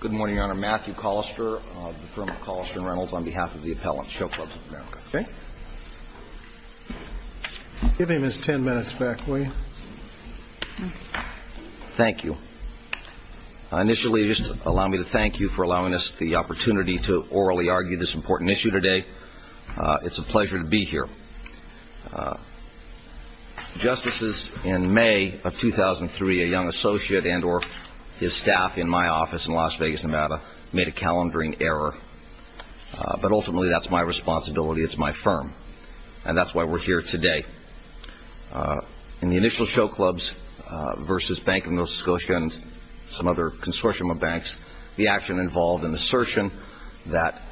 Good morning, Your Honor. Matthew Collister of the firm of Collister and Reynolds on behalf of the appellant, Show Clubs of America. Give him his ten minutes back, will you? Thank you. Initially, just allow me to thank you for allowing us the opportunity to orally argue this important issue today. It's a pleasure to be here. Justices, in May of 2003, a young associate and or his staff in my office in Las Vegas, Nevada, made a calendaring error. But ultimately, that's my responsibility. It's my firm. And that's why we're here today. In the initial show clubs versus Bank of Nova Scotia and some other consortium of banks, the action involved an assertion that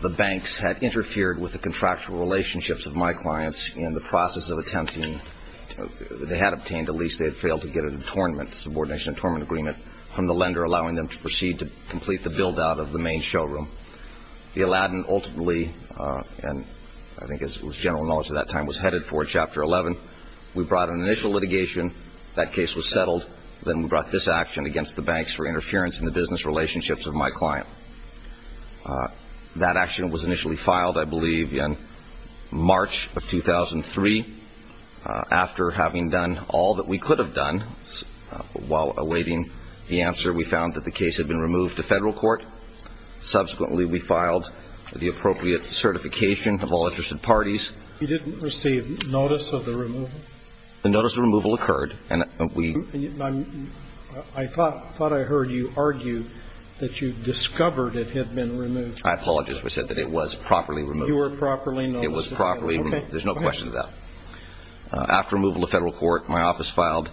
the banks had interfered with the contractual relationships of my clients in the process of attempting to – they had obtained a lease. They had failed to get a subordination and attorneyment agreement from the lender, allowing them to proceed to complete the build-out of the main showroom. The Aladdin ultimately, and I think it was general knowledge at that time, was headed for Chapter 11. We brought an initial litigation. That case was settled. Then we brought this action against the banks for interference in the business relationships of my client. That action was initially filed, I believe, in March of 2003. After having done all that we could have done, while awaiting the answer, we found that the case had been removed to federal court. Subsequently, we filed the appropriate certification of all interested parties. You didn't receive notice of the removal? The notice of removal occurred. I thought I heard you argue that you discovered it had been removed. I apologize. We said that it was properly removed. You were properly notified. It was properly removed. Okay. Go ahead. There's no question of that. After removal to federal court, my office filed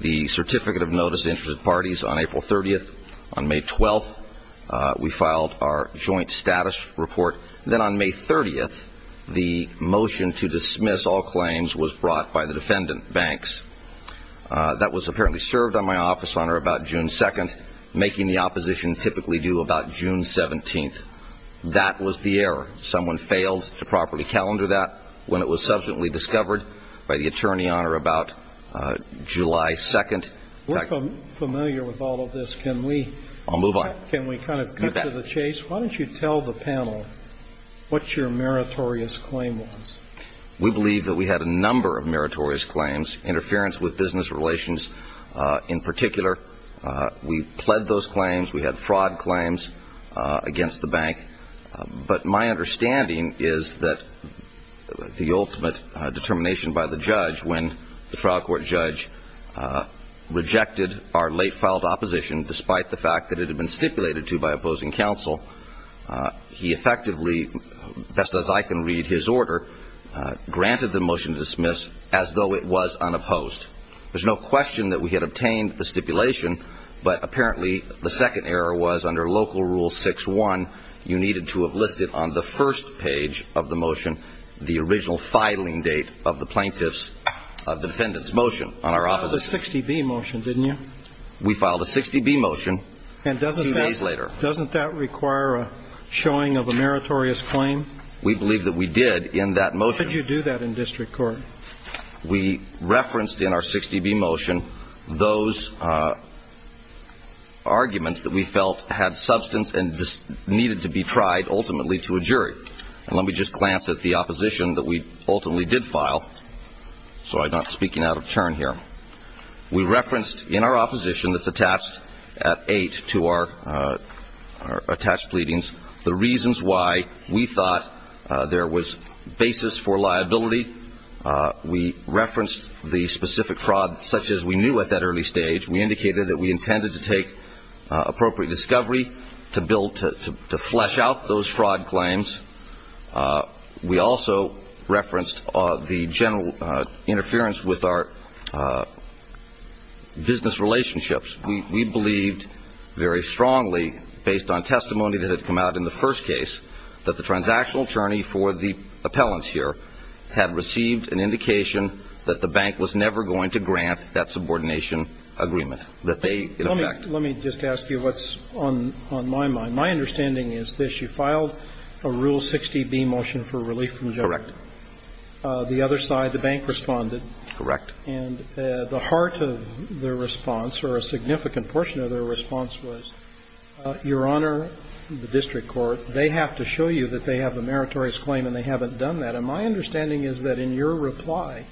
the certificate of notice to interested parties on April 30th. On May 12th, we filed our joint status report. Then on May 30th, the motion to dismiss all claims was brought by the defendant banks. That was apparently served on my office, Your Honor, about June 2nd, making the opposition typically due about June 17th. That was the error. Someone failed to properly calendar that when it was subsequently discovered by the attorney, Your Honor, about July 2nd. We're familiar with all of this. I'll move on. Can we kind of cut to the chase? Why don't you tell the panel what your meritorious claim was? We believe that we had a number of meritorious claims, interference with business relations in particular. We pled those claims. We had fraud claims against the bank. But my understanding is that the ultimate determination by the judge, when the trial court judge rejected our late filed opposition, despite the fact that it had been stipulated to by opposing counsel, he effectively, best as I can read his order, granted the motion to dismiss as though it was unopposed. There's no question that we had obtained the stipulation, but apparently the second error was under Local Rule 6-1, you needed to have listed on the first page of the motion the original filing date of the plaintiff's, of the defendant's motion on our opposition. You filed a 60-B motion, didn't you? We filed a 60-B motion two days later. And doesn't that require a showing of a meritorious claim? We believe that we did in that motion. Could you do that in district court? We referenced in our 60-B motion those arguments that we felt had substance and needed to be tried ultimately to a jury. And let me just glance at the opposition that we ultimately did file, so I'm not speaking out of turn here. We referenced in our opposition that's attached at 8 to our attached pleadings the reasons why we thought there was basis for liability. We referenced the specific fraud such as we knew at that early stage. We indicated that we intended to take appropriate discovery to flesh out those fraud claims. We also referenced the general interference with our business relationships. We believed very strongly based on testimony that had come out in the first case that the transactional attorney for the appellants here had received an indication that the bank was never going to grant that subordination agreement, that they in effect Let me just ask you what's on my mind. My understanding is this. You filed a Rule 60-B motion for relief from judgment. Correct. The other side, the bank, responded. Correct. And the heart of their response, or a significant portion of their response, was, Your Honor, the district court, they have to show you that they have a meritorious claim and they haven't done that. And my understanding is that in your reply,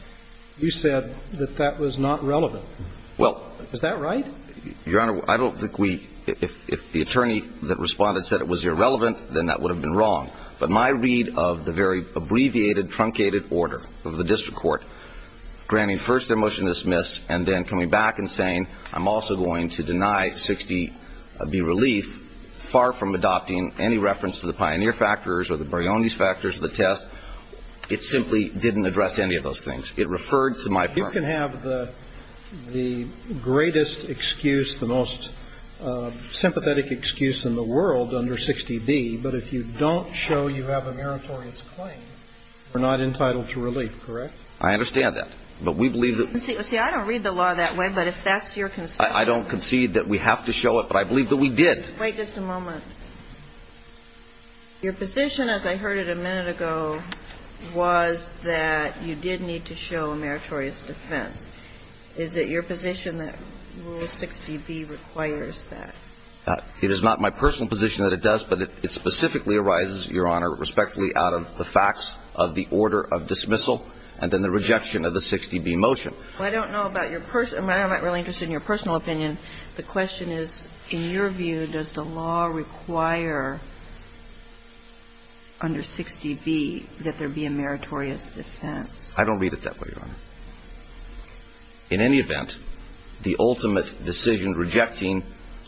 you said that that was not relevant. Well Is that right? Your Honor, I don't think we If the attorney that responded said it was irrelevant, then that would have been wrong. But my read of the very abbreviated, truncated order of the district court granting first their motion to dismiss and then coming back and saying, I'm also going to deny 60-B relief, far from adopting any reference to the pioneer factors or the Brioni's factors of the test, it simply didn't address any of those things. It referred to my firm. You can have the greatest excuse, the most sympathetic excuse in the world under 60-B, but if you don't show you have a meritorious claim, you're not entitled to relief. Correct? I understand that. But we believe that See, I don't read the law that way, but if that's your concern I don't concede that we have to show it, but I believe that we did. Wait just a moment. Your position, as I heard it a minute ago, was that you did need to show a meritorious defense. Is it your position that Rule 60-B requires that? It is not my personal position that it does, but it specifically arises, Your Honor, respectfully out of the facts of the order of dismissal and then the rejection of the 60-B motion. Well, I don't know about your personal – I'm not really interested in your personal opinion. The question is, in your view, does the law require under 60-B that there be a meritorious defense? I don't read it that way, Your Honor. In any event, the ultimate decision rejecting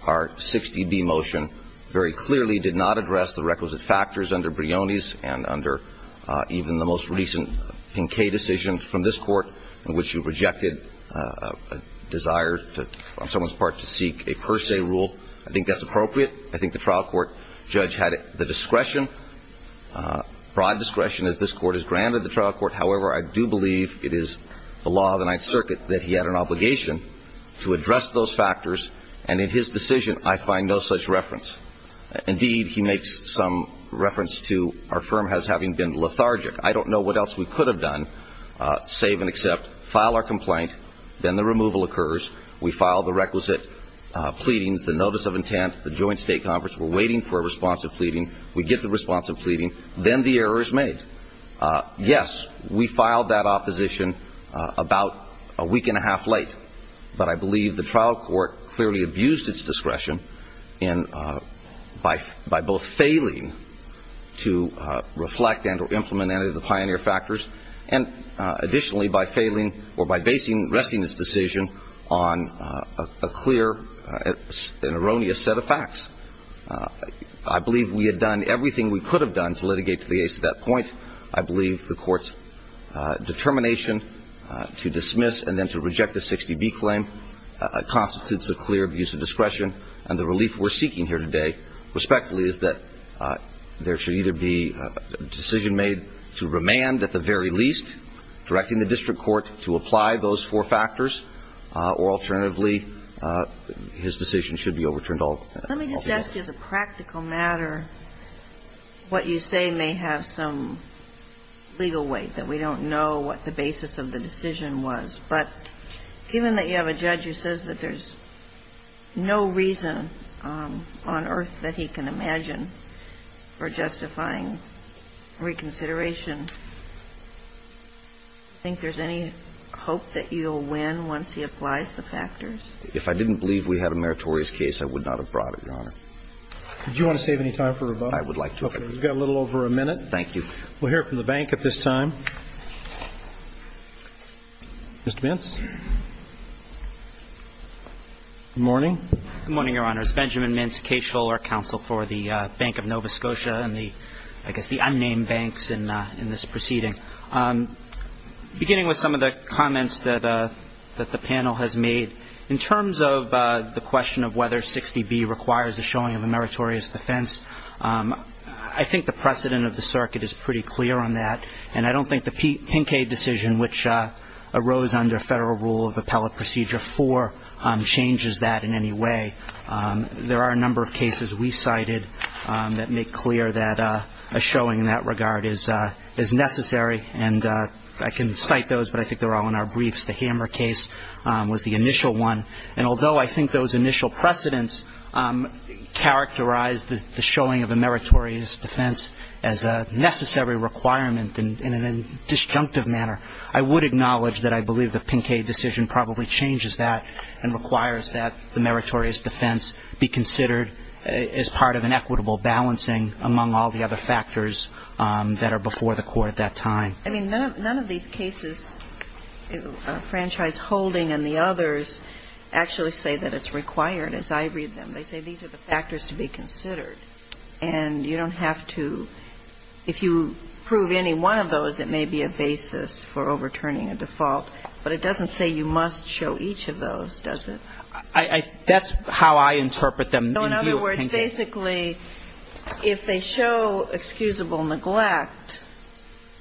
our 60-B motion very clearly did not address the requisite factors under Brioni's and under even the most recent Pinkay decision from this Court in which you rejected a desire on someone's part to seek a per se rule. I think that's appropriate. I think the trial court judge had the discretion, broad discretion as this Court has granted the trial court. However, I do believe it is the law of the Ninth Circuit that he had an obligation to address those factors. And in his decision, I find no such reference. Indeed, he makes some reference to our firm as having been lethargic. I don't know what else we could have done, save and accept, file our complaint, then the removal occurs. We file the requisite pleadings, the notice of intent, the joint state conference. We're waiting for a response of pleading. We get the response of pleading. Then the error is made. Yes, we filed that opposition about a week and a half late. But I believe the trial court clearly abused its discretion by both failing to reflect and or implement any of the pioneer factors, and additionally by failing or by basing Resting's decision on a clear and erroneous set of facts. I believe we had done everything we could have done to litigate to the ace at that point. I believe the court's determination to dismiss and then to reject the 60B claim constitutes a clear abuse of discretion. And the relief we're seeking here today, respectfully, is that there should either be a decision made to remand at the very least, directing the district court to apply those four factors, or alternatively, his decision should be overturned altogether. Let me just ask you, as a practical matter, what you say may have some legal weight, that we don't know what the basis of the decision was. But given that you have a judge who says that there's no reason on earth that he can imagine for justifying reconsideration, do you think there's any hope that you'll win once he applies the factors? If I didn't believe we had a meritorious case, I would not have brought it, Your Honor. Do you want to save any time for rebuttal? I would like to. Okay. We've got a little over a minute. Thank you. We'll hear from the bank at this time. Mr. Mintz. Good morning. Good morning, Your Honors. Benjamin Mintz, Caseholder Counsel for the Bank of Nova Scotia and the, I guess, the unnamed banks in this proceeding. Beginning with some of the comments that the panel has made, in terms of the question of whether 60B requires the showing of a meritorious defense, I think the precedent of the circuit is pretty clear on that. And I don't think the Pincade decision, which arose under federal rule of appellate procedure 4, changes that in any way. There are a number of cases we cited that make clear that a showing in that regard is necessary, and I can cite those, but I think they're all in our briefs. The Hammer case was the initial one. And although I think those initial precedents characterized the showing of a meritorious defense as a necessary requirement in a disjunctive manner, I would acknowledge that I believe the Pincade decision probably changes that and requires that the meritorious defense be considered as part of an equitable balancing, among all the other factors that are before the court at that time. I mean, none of these cases, Franchise Holding and the others, actually say that it's required, as I read them. They say these are the factors to be considered. And you don't have to, if you prove any one of those, it may be a basis for overturning a default. But it doesn't say you must show each of those, does it? That's how I interpret them. So in other words, basically, if they show excusable neglect,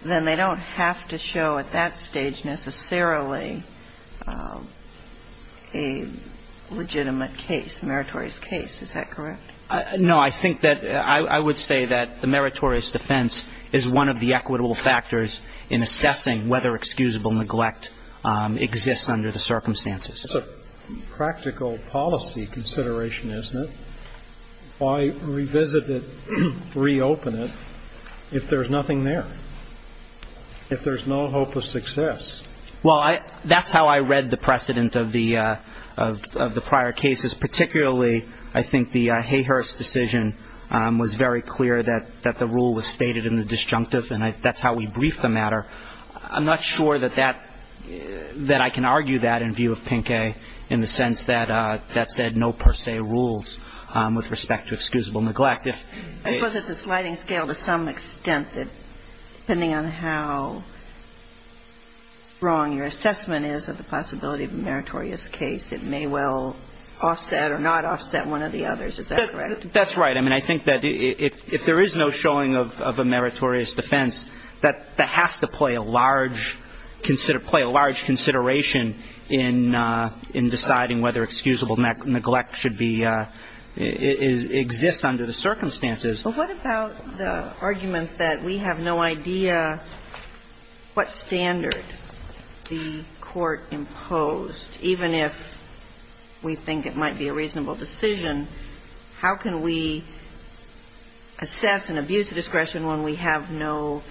then they don't have to show at that stage necessarily a legitimate case, meritorious case. Is that correct? No. I think that I would say that the meritorious defense is one of the equitable factors in assessing whether excusable neglect exists under the circumstances. It's a practical policy consideration, isn't it? Why revisit it, reopen it, if there's nothing there, if there's no hope of success? Well, that's how I read the precedent of the prior cases. Particularly, I think the Hayhurst decision was very clear that the rule was stated in the disjunctive, and that's how we brief the matter. I'm not sure that that – that I can argue that in view of Pinke in the sense that that said no per se rules with respect to excusable neglect. I suppose it's a sliding scale to some extent that depending on how wrong your assessment is of the possibility of a meritorious case, it may well offset or not offset one of the others. Is that correct? That's right. I mean, I think that if there is no showing of a meritorious defense, that has to play a large – play a large consideration in deciding whether excusable neglect should be – exists under the circumstances. But what about the argument that we have no idea what standard the court imposed, even if we think it might be a reasonable decision? How can we assess and abuse discretion when we have no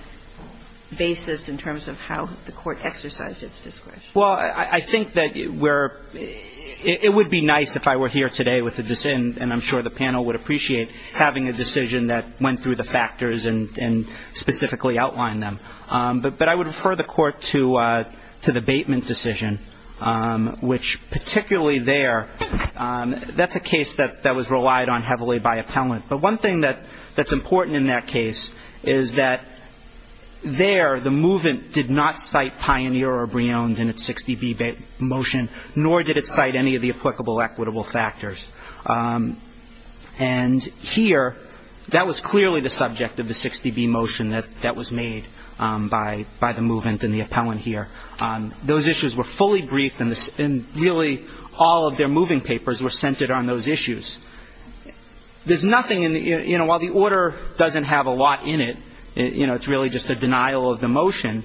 basis in terms of how the court exercised its discretion? Well, I think that we're – it would be nice if I were here today with a – and I'm sure the panel would appreciate having a decision that went through the factors and specifically outlined them. But I would refer the court to the Bateman decision, which particularly there, that's a case that was relied on heavily by appellant. But one thing that's important in that case is that there the movement did not cite Pioneer or Brion's in its 60B motion, nor did it cite any of the applicable equitable factors. And here, that was clearly the subject of the 60B motion that was made. By the movement and the appellant here. Those issues were fully briefed and really all of their moving papers were centered on those issues. There's nothing in the – you know, while the order doesn't have a lot in it, you know, it's really just a denial of the motion,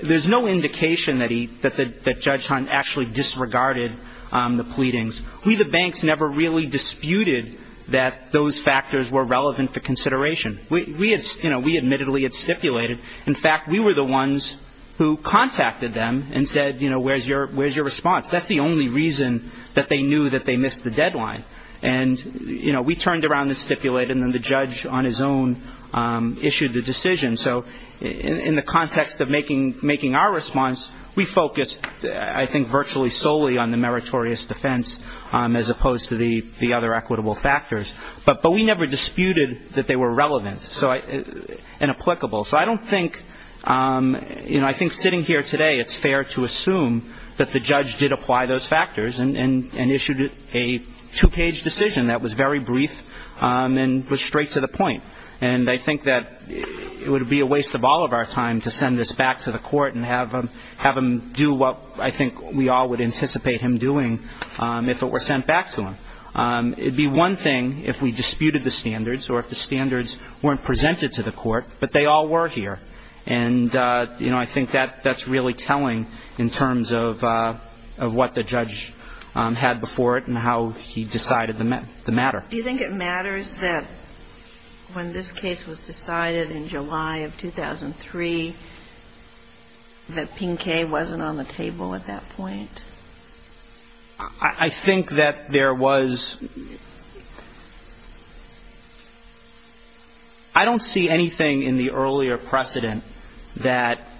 there's no indication that he – that Judge Hunt actually disregarded the pleadings. We the banks never really disputed that those factors were relevant for consideration. We admittedly had stipulated. In fact, we were the ones who contacted them and said, you know, where's your response? That's the only reason that they knew that they missed the deadline. And, you know, we turned around the stipulate and then the judge on his own issued the decision. So in the context of making our response, we focused, I think, virtually solely on the meritorious defense as opposed to the other equitable factors. But we never disputed that they were relevant and applicable. So I don't think – you know, I think sitting here today it's fair to assume that the judge did apply those factors and issued a two-page decision that was very brief and was straight to the point. And I think that it would be a waste of all of our time to send this back to the court and have him do what I think we all would anticipate him doing if it were sent back to him. It would be one thing if we disputed the standards or if the standards weren't presented to the court, but they all were here. And, you know, I think that that's really telling in terms of what the judge had before it and how he decided the matter. Do you think it matters that when this case was decided in July of 2003, that Pinkay wasn't on the table at that point? I think that there was – I don't see anything in the earlier precedent that –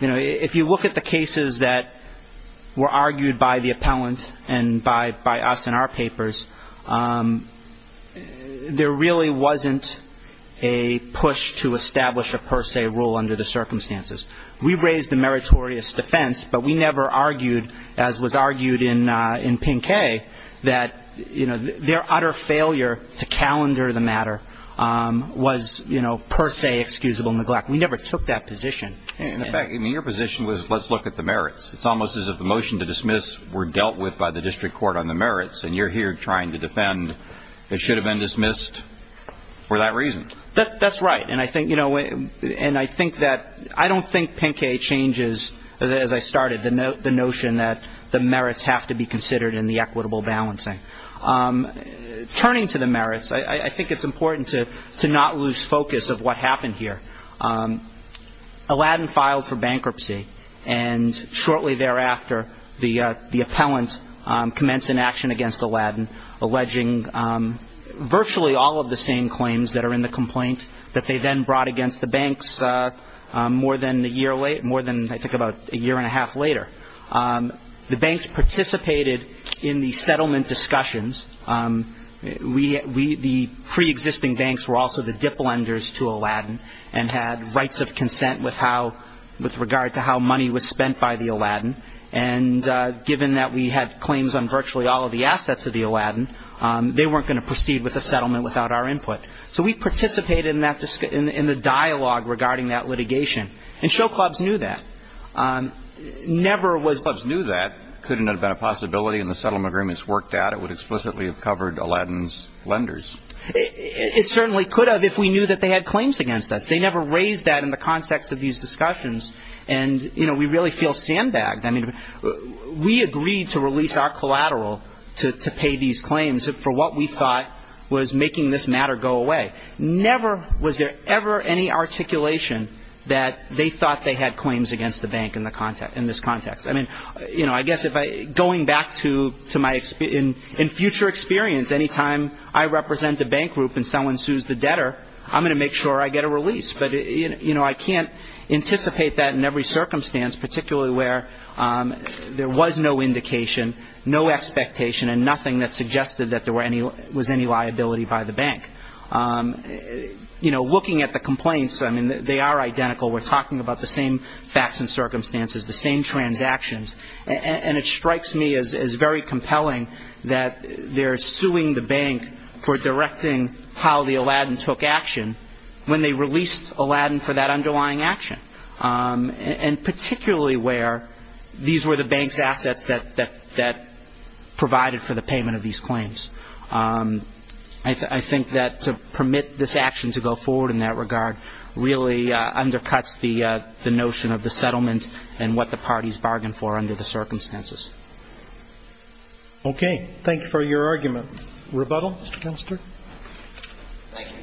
you know, if you look at the cases that were argued by the appellant and by us in our papers, there really wasn't a push to establish a per se rule under the circumstances. We raised the meritorious defense, but we never argued, as was argued in Pinkay, that, you know, their utter failure to calendar the matter was, you know, per se excusable neglect. We never took that position. In fact, your position was let's look at the merits. It's almost as if the motion to dismiss were dealt with by the district court on the merits, and you're here trying to defend it should have been dismissed for that reason. That's right. And I think that – I don't think Pinkay changes, as I started, the notion that the merits have to be considered in the equitable balancing. Turning to the merits, I think it's important to not lose focus of what happened here. Aladdin filed for bankruptcy, and shortly thereafter, the appellant commenced an action against Aladdin, alleging virtually all of the same claims that are in the complaint that they then brought against the banks more than a year late – more than, I think, about a year and a half later. The banks participated in the settlement discussions. We – the preexisting banks were also the diplenders to Aladdin and had rights of consent with how – with regard to how money was spent by the Aladdin. And given that we had claims on virtually all of the assets of the Aladdin, they weren't going to proceed with the settlement without our input. So we participated in that – in the dialogue regarding that litigation. And show clubs knew that. Never was – Show clubs knew that. It couldn't have been a possibility, and the settlement agreements worked out. It would explicitly have covered Aladdin's lenders. It certainly could have if we knew that they had claims against us. They never raised that in the context of these discussions. And, you know, we really feel sandbagged. I mean, we agreed to release our collateral to pay these claims for what we thought was making this matter go away. Never was there ever any articulation that they thought they had claims against the bank in this context. I mean, you know, I guess if I – going back to my – in future experience, any time I represent a bank group and someone sues the debtor, I'm going to make sure I get a release. But, you know, I can't anticipate that in every circumstance, particularly where there was no indication, no expectation, and nothing that suggested that there were any – was any liability by the bank. You know, looking at the complaints, I mean, they are identical. We're talking about the same facts and circumstances, the same transactions. And it strikes me as very compelling that they're suing the bank for directing how the Aladdin took action when they released Aladdin for that underlying action. And particularly where these were the bank's assets that provided for the payment of these claims. I think that to permit this action to go forward in that regard really undercuts the notion of the settlement and what the parties bargained for under the circumstances. Okay. Thank you for your argument. Rebuttal, Mr. Canister? Thank you.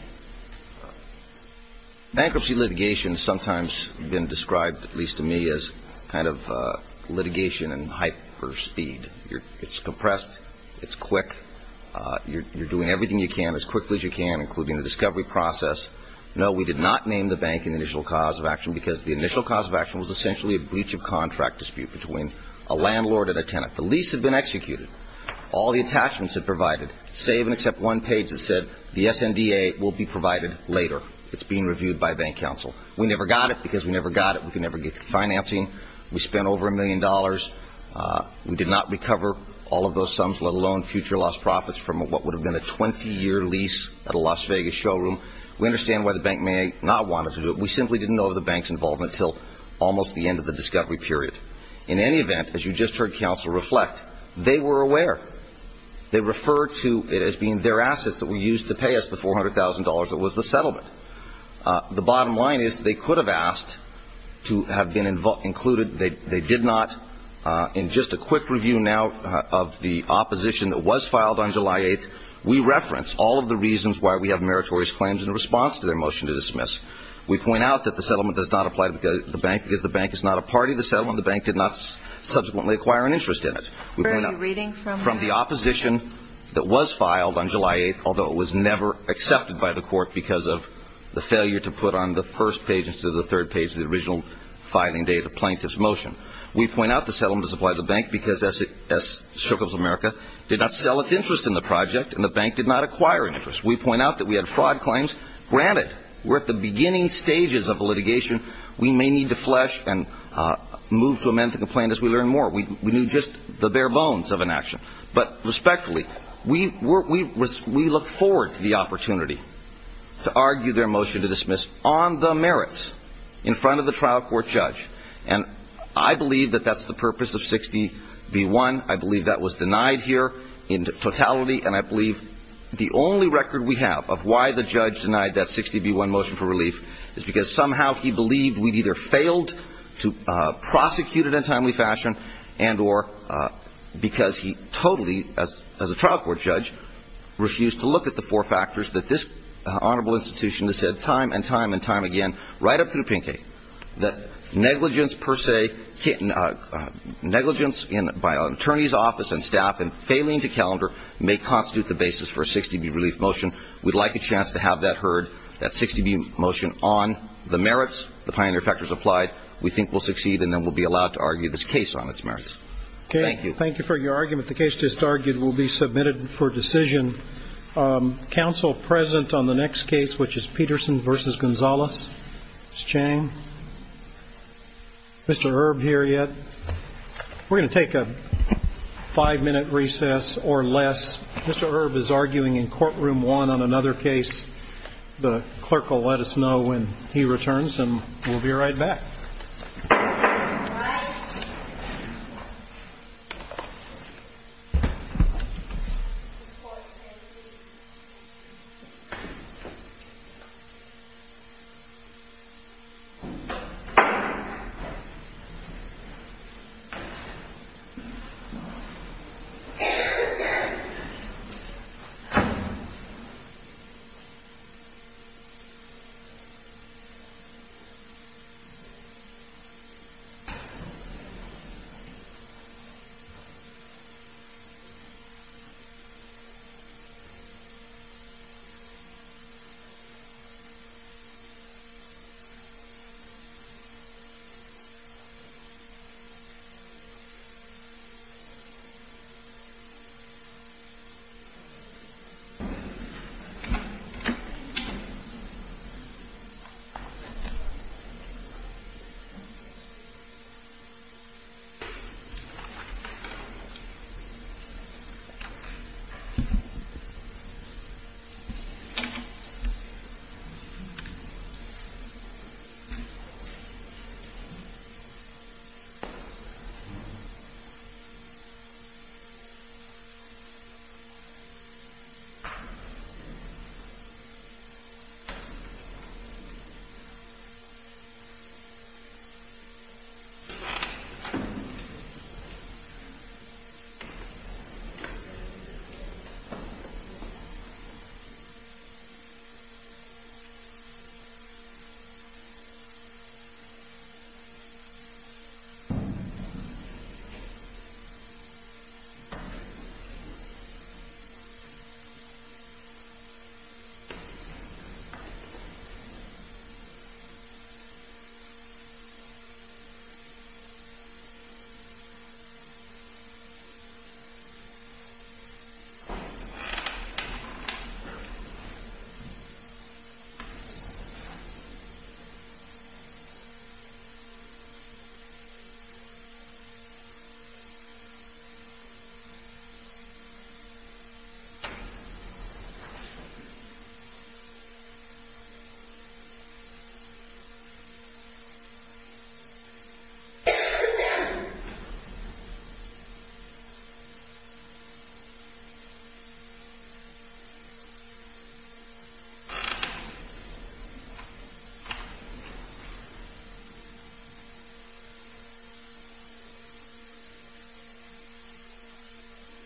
Bankruptcy litigation has sometimes been described, at least to me, as kind of litigation in hype or speed. It's compressed. It's quick. You're doing everything you can as quickly as you can, including the discovery process. No, we did not name the bank an initial cause of action because the initial cause of action was essentially a breach of contract dispute between a landlord and a tenant. The lease had been executed. All the attachments had provided. Save and accept one page that said the SNDA will be provided later. It's being reviewed by bank counsel. We never got it because we never got it. We could never get financing. We spent over a million dollars. We did not recover all of those sums, let alone future lost profits, from what would have been a 20-year lease at a Las Vegas showroom. We understand why the bank may not want us to do it. We simply didn't know of the bank's involvement until almost the end of the discovery period. In any event, as you just heard counsel reflect, they were aware. They referred to it as being their assets that were used to pay us the $400,000 that was the settlement. The bottom line is they could have asked to have been included. They did not. In just a quick review now of the opposition that was filed on July 8th, we referenced all of the reasons why we have meritorious claims in response to their motion to dismiss. We point out that the settlement does not apply to the bank because the bank is not a party to the settlement. The bank did not subsequently acquire an interest in it. Are you reading from that? From the opposition that was filed on July 8th, although it was never accepted by the court because of the failure to put on the first page instead of the third page of the original filing date of plaintiff's motion. We point out the settlement does apply to the bank because Circles of America did not sell its interest in the project and the bank did not acquire an interest. We point out that we had fraud claims. Granted, we're at the beginning stages of litigation. We may need to flesh and move to amend the complaint as we learn more. We knew just the bare bones of an action. But respectfully, we look forward to the opportunity to argue their motion to dismiss on the merits in front of the trial court judge. And I believe that that's the purpose of 60B1. I believe that was denied here in totality, and I believe the only record we have of why the judge denied that 60B1 motion for relief is because somehow he believed we'd either failed to prosecute it in a timely fashion and or because he totally, as a trial court judge, refused to look at the four factors that this honorable institution has said time and time and time again right up through Pinke that negligence per se, negligence by an attorney's office and staff and failing to calendar may constitute the basis for a 60B relief motion. We'd like a chance to have that heard, that 60B motion on the merits, the pioneering factors applied. We think we'll succeed, and then we'll be allowed to argue this case on its merits. Thank you. Thank you for your argument. The case just argued will be submitted for decision. Counsel present on the next case, which is Peterson v. Gonzales? Ms. Chang? Mr. Erb here yet? We're going to take a five-minute recess or less. Mr. Erb is arguing in courtroom one on another case. The clerk will let us know when he returns, and we'll be right back. Thank you. Thank you. Thank you. Thank you. Thank you.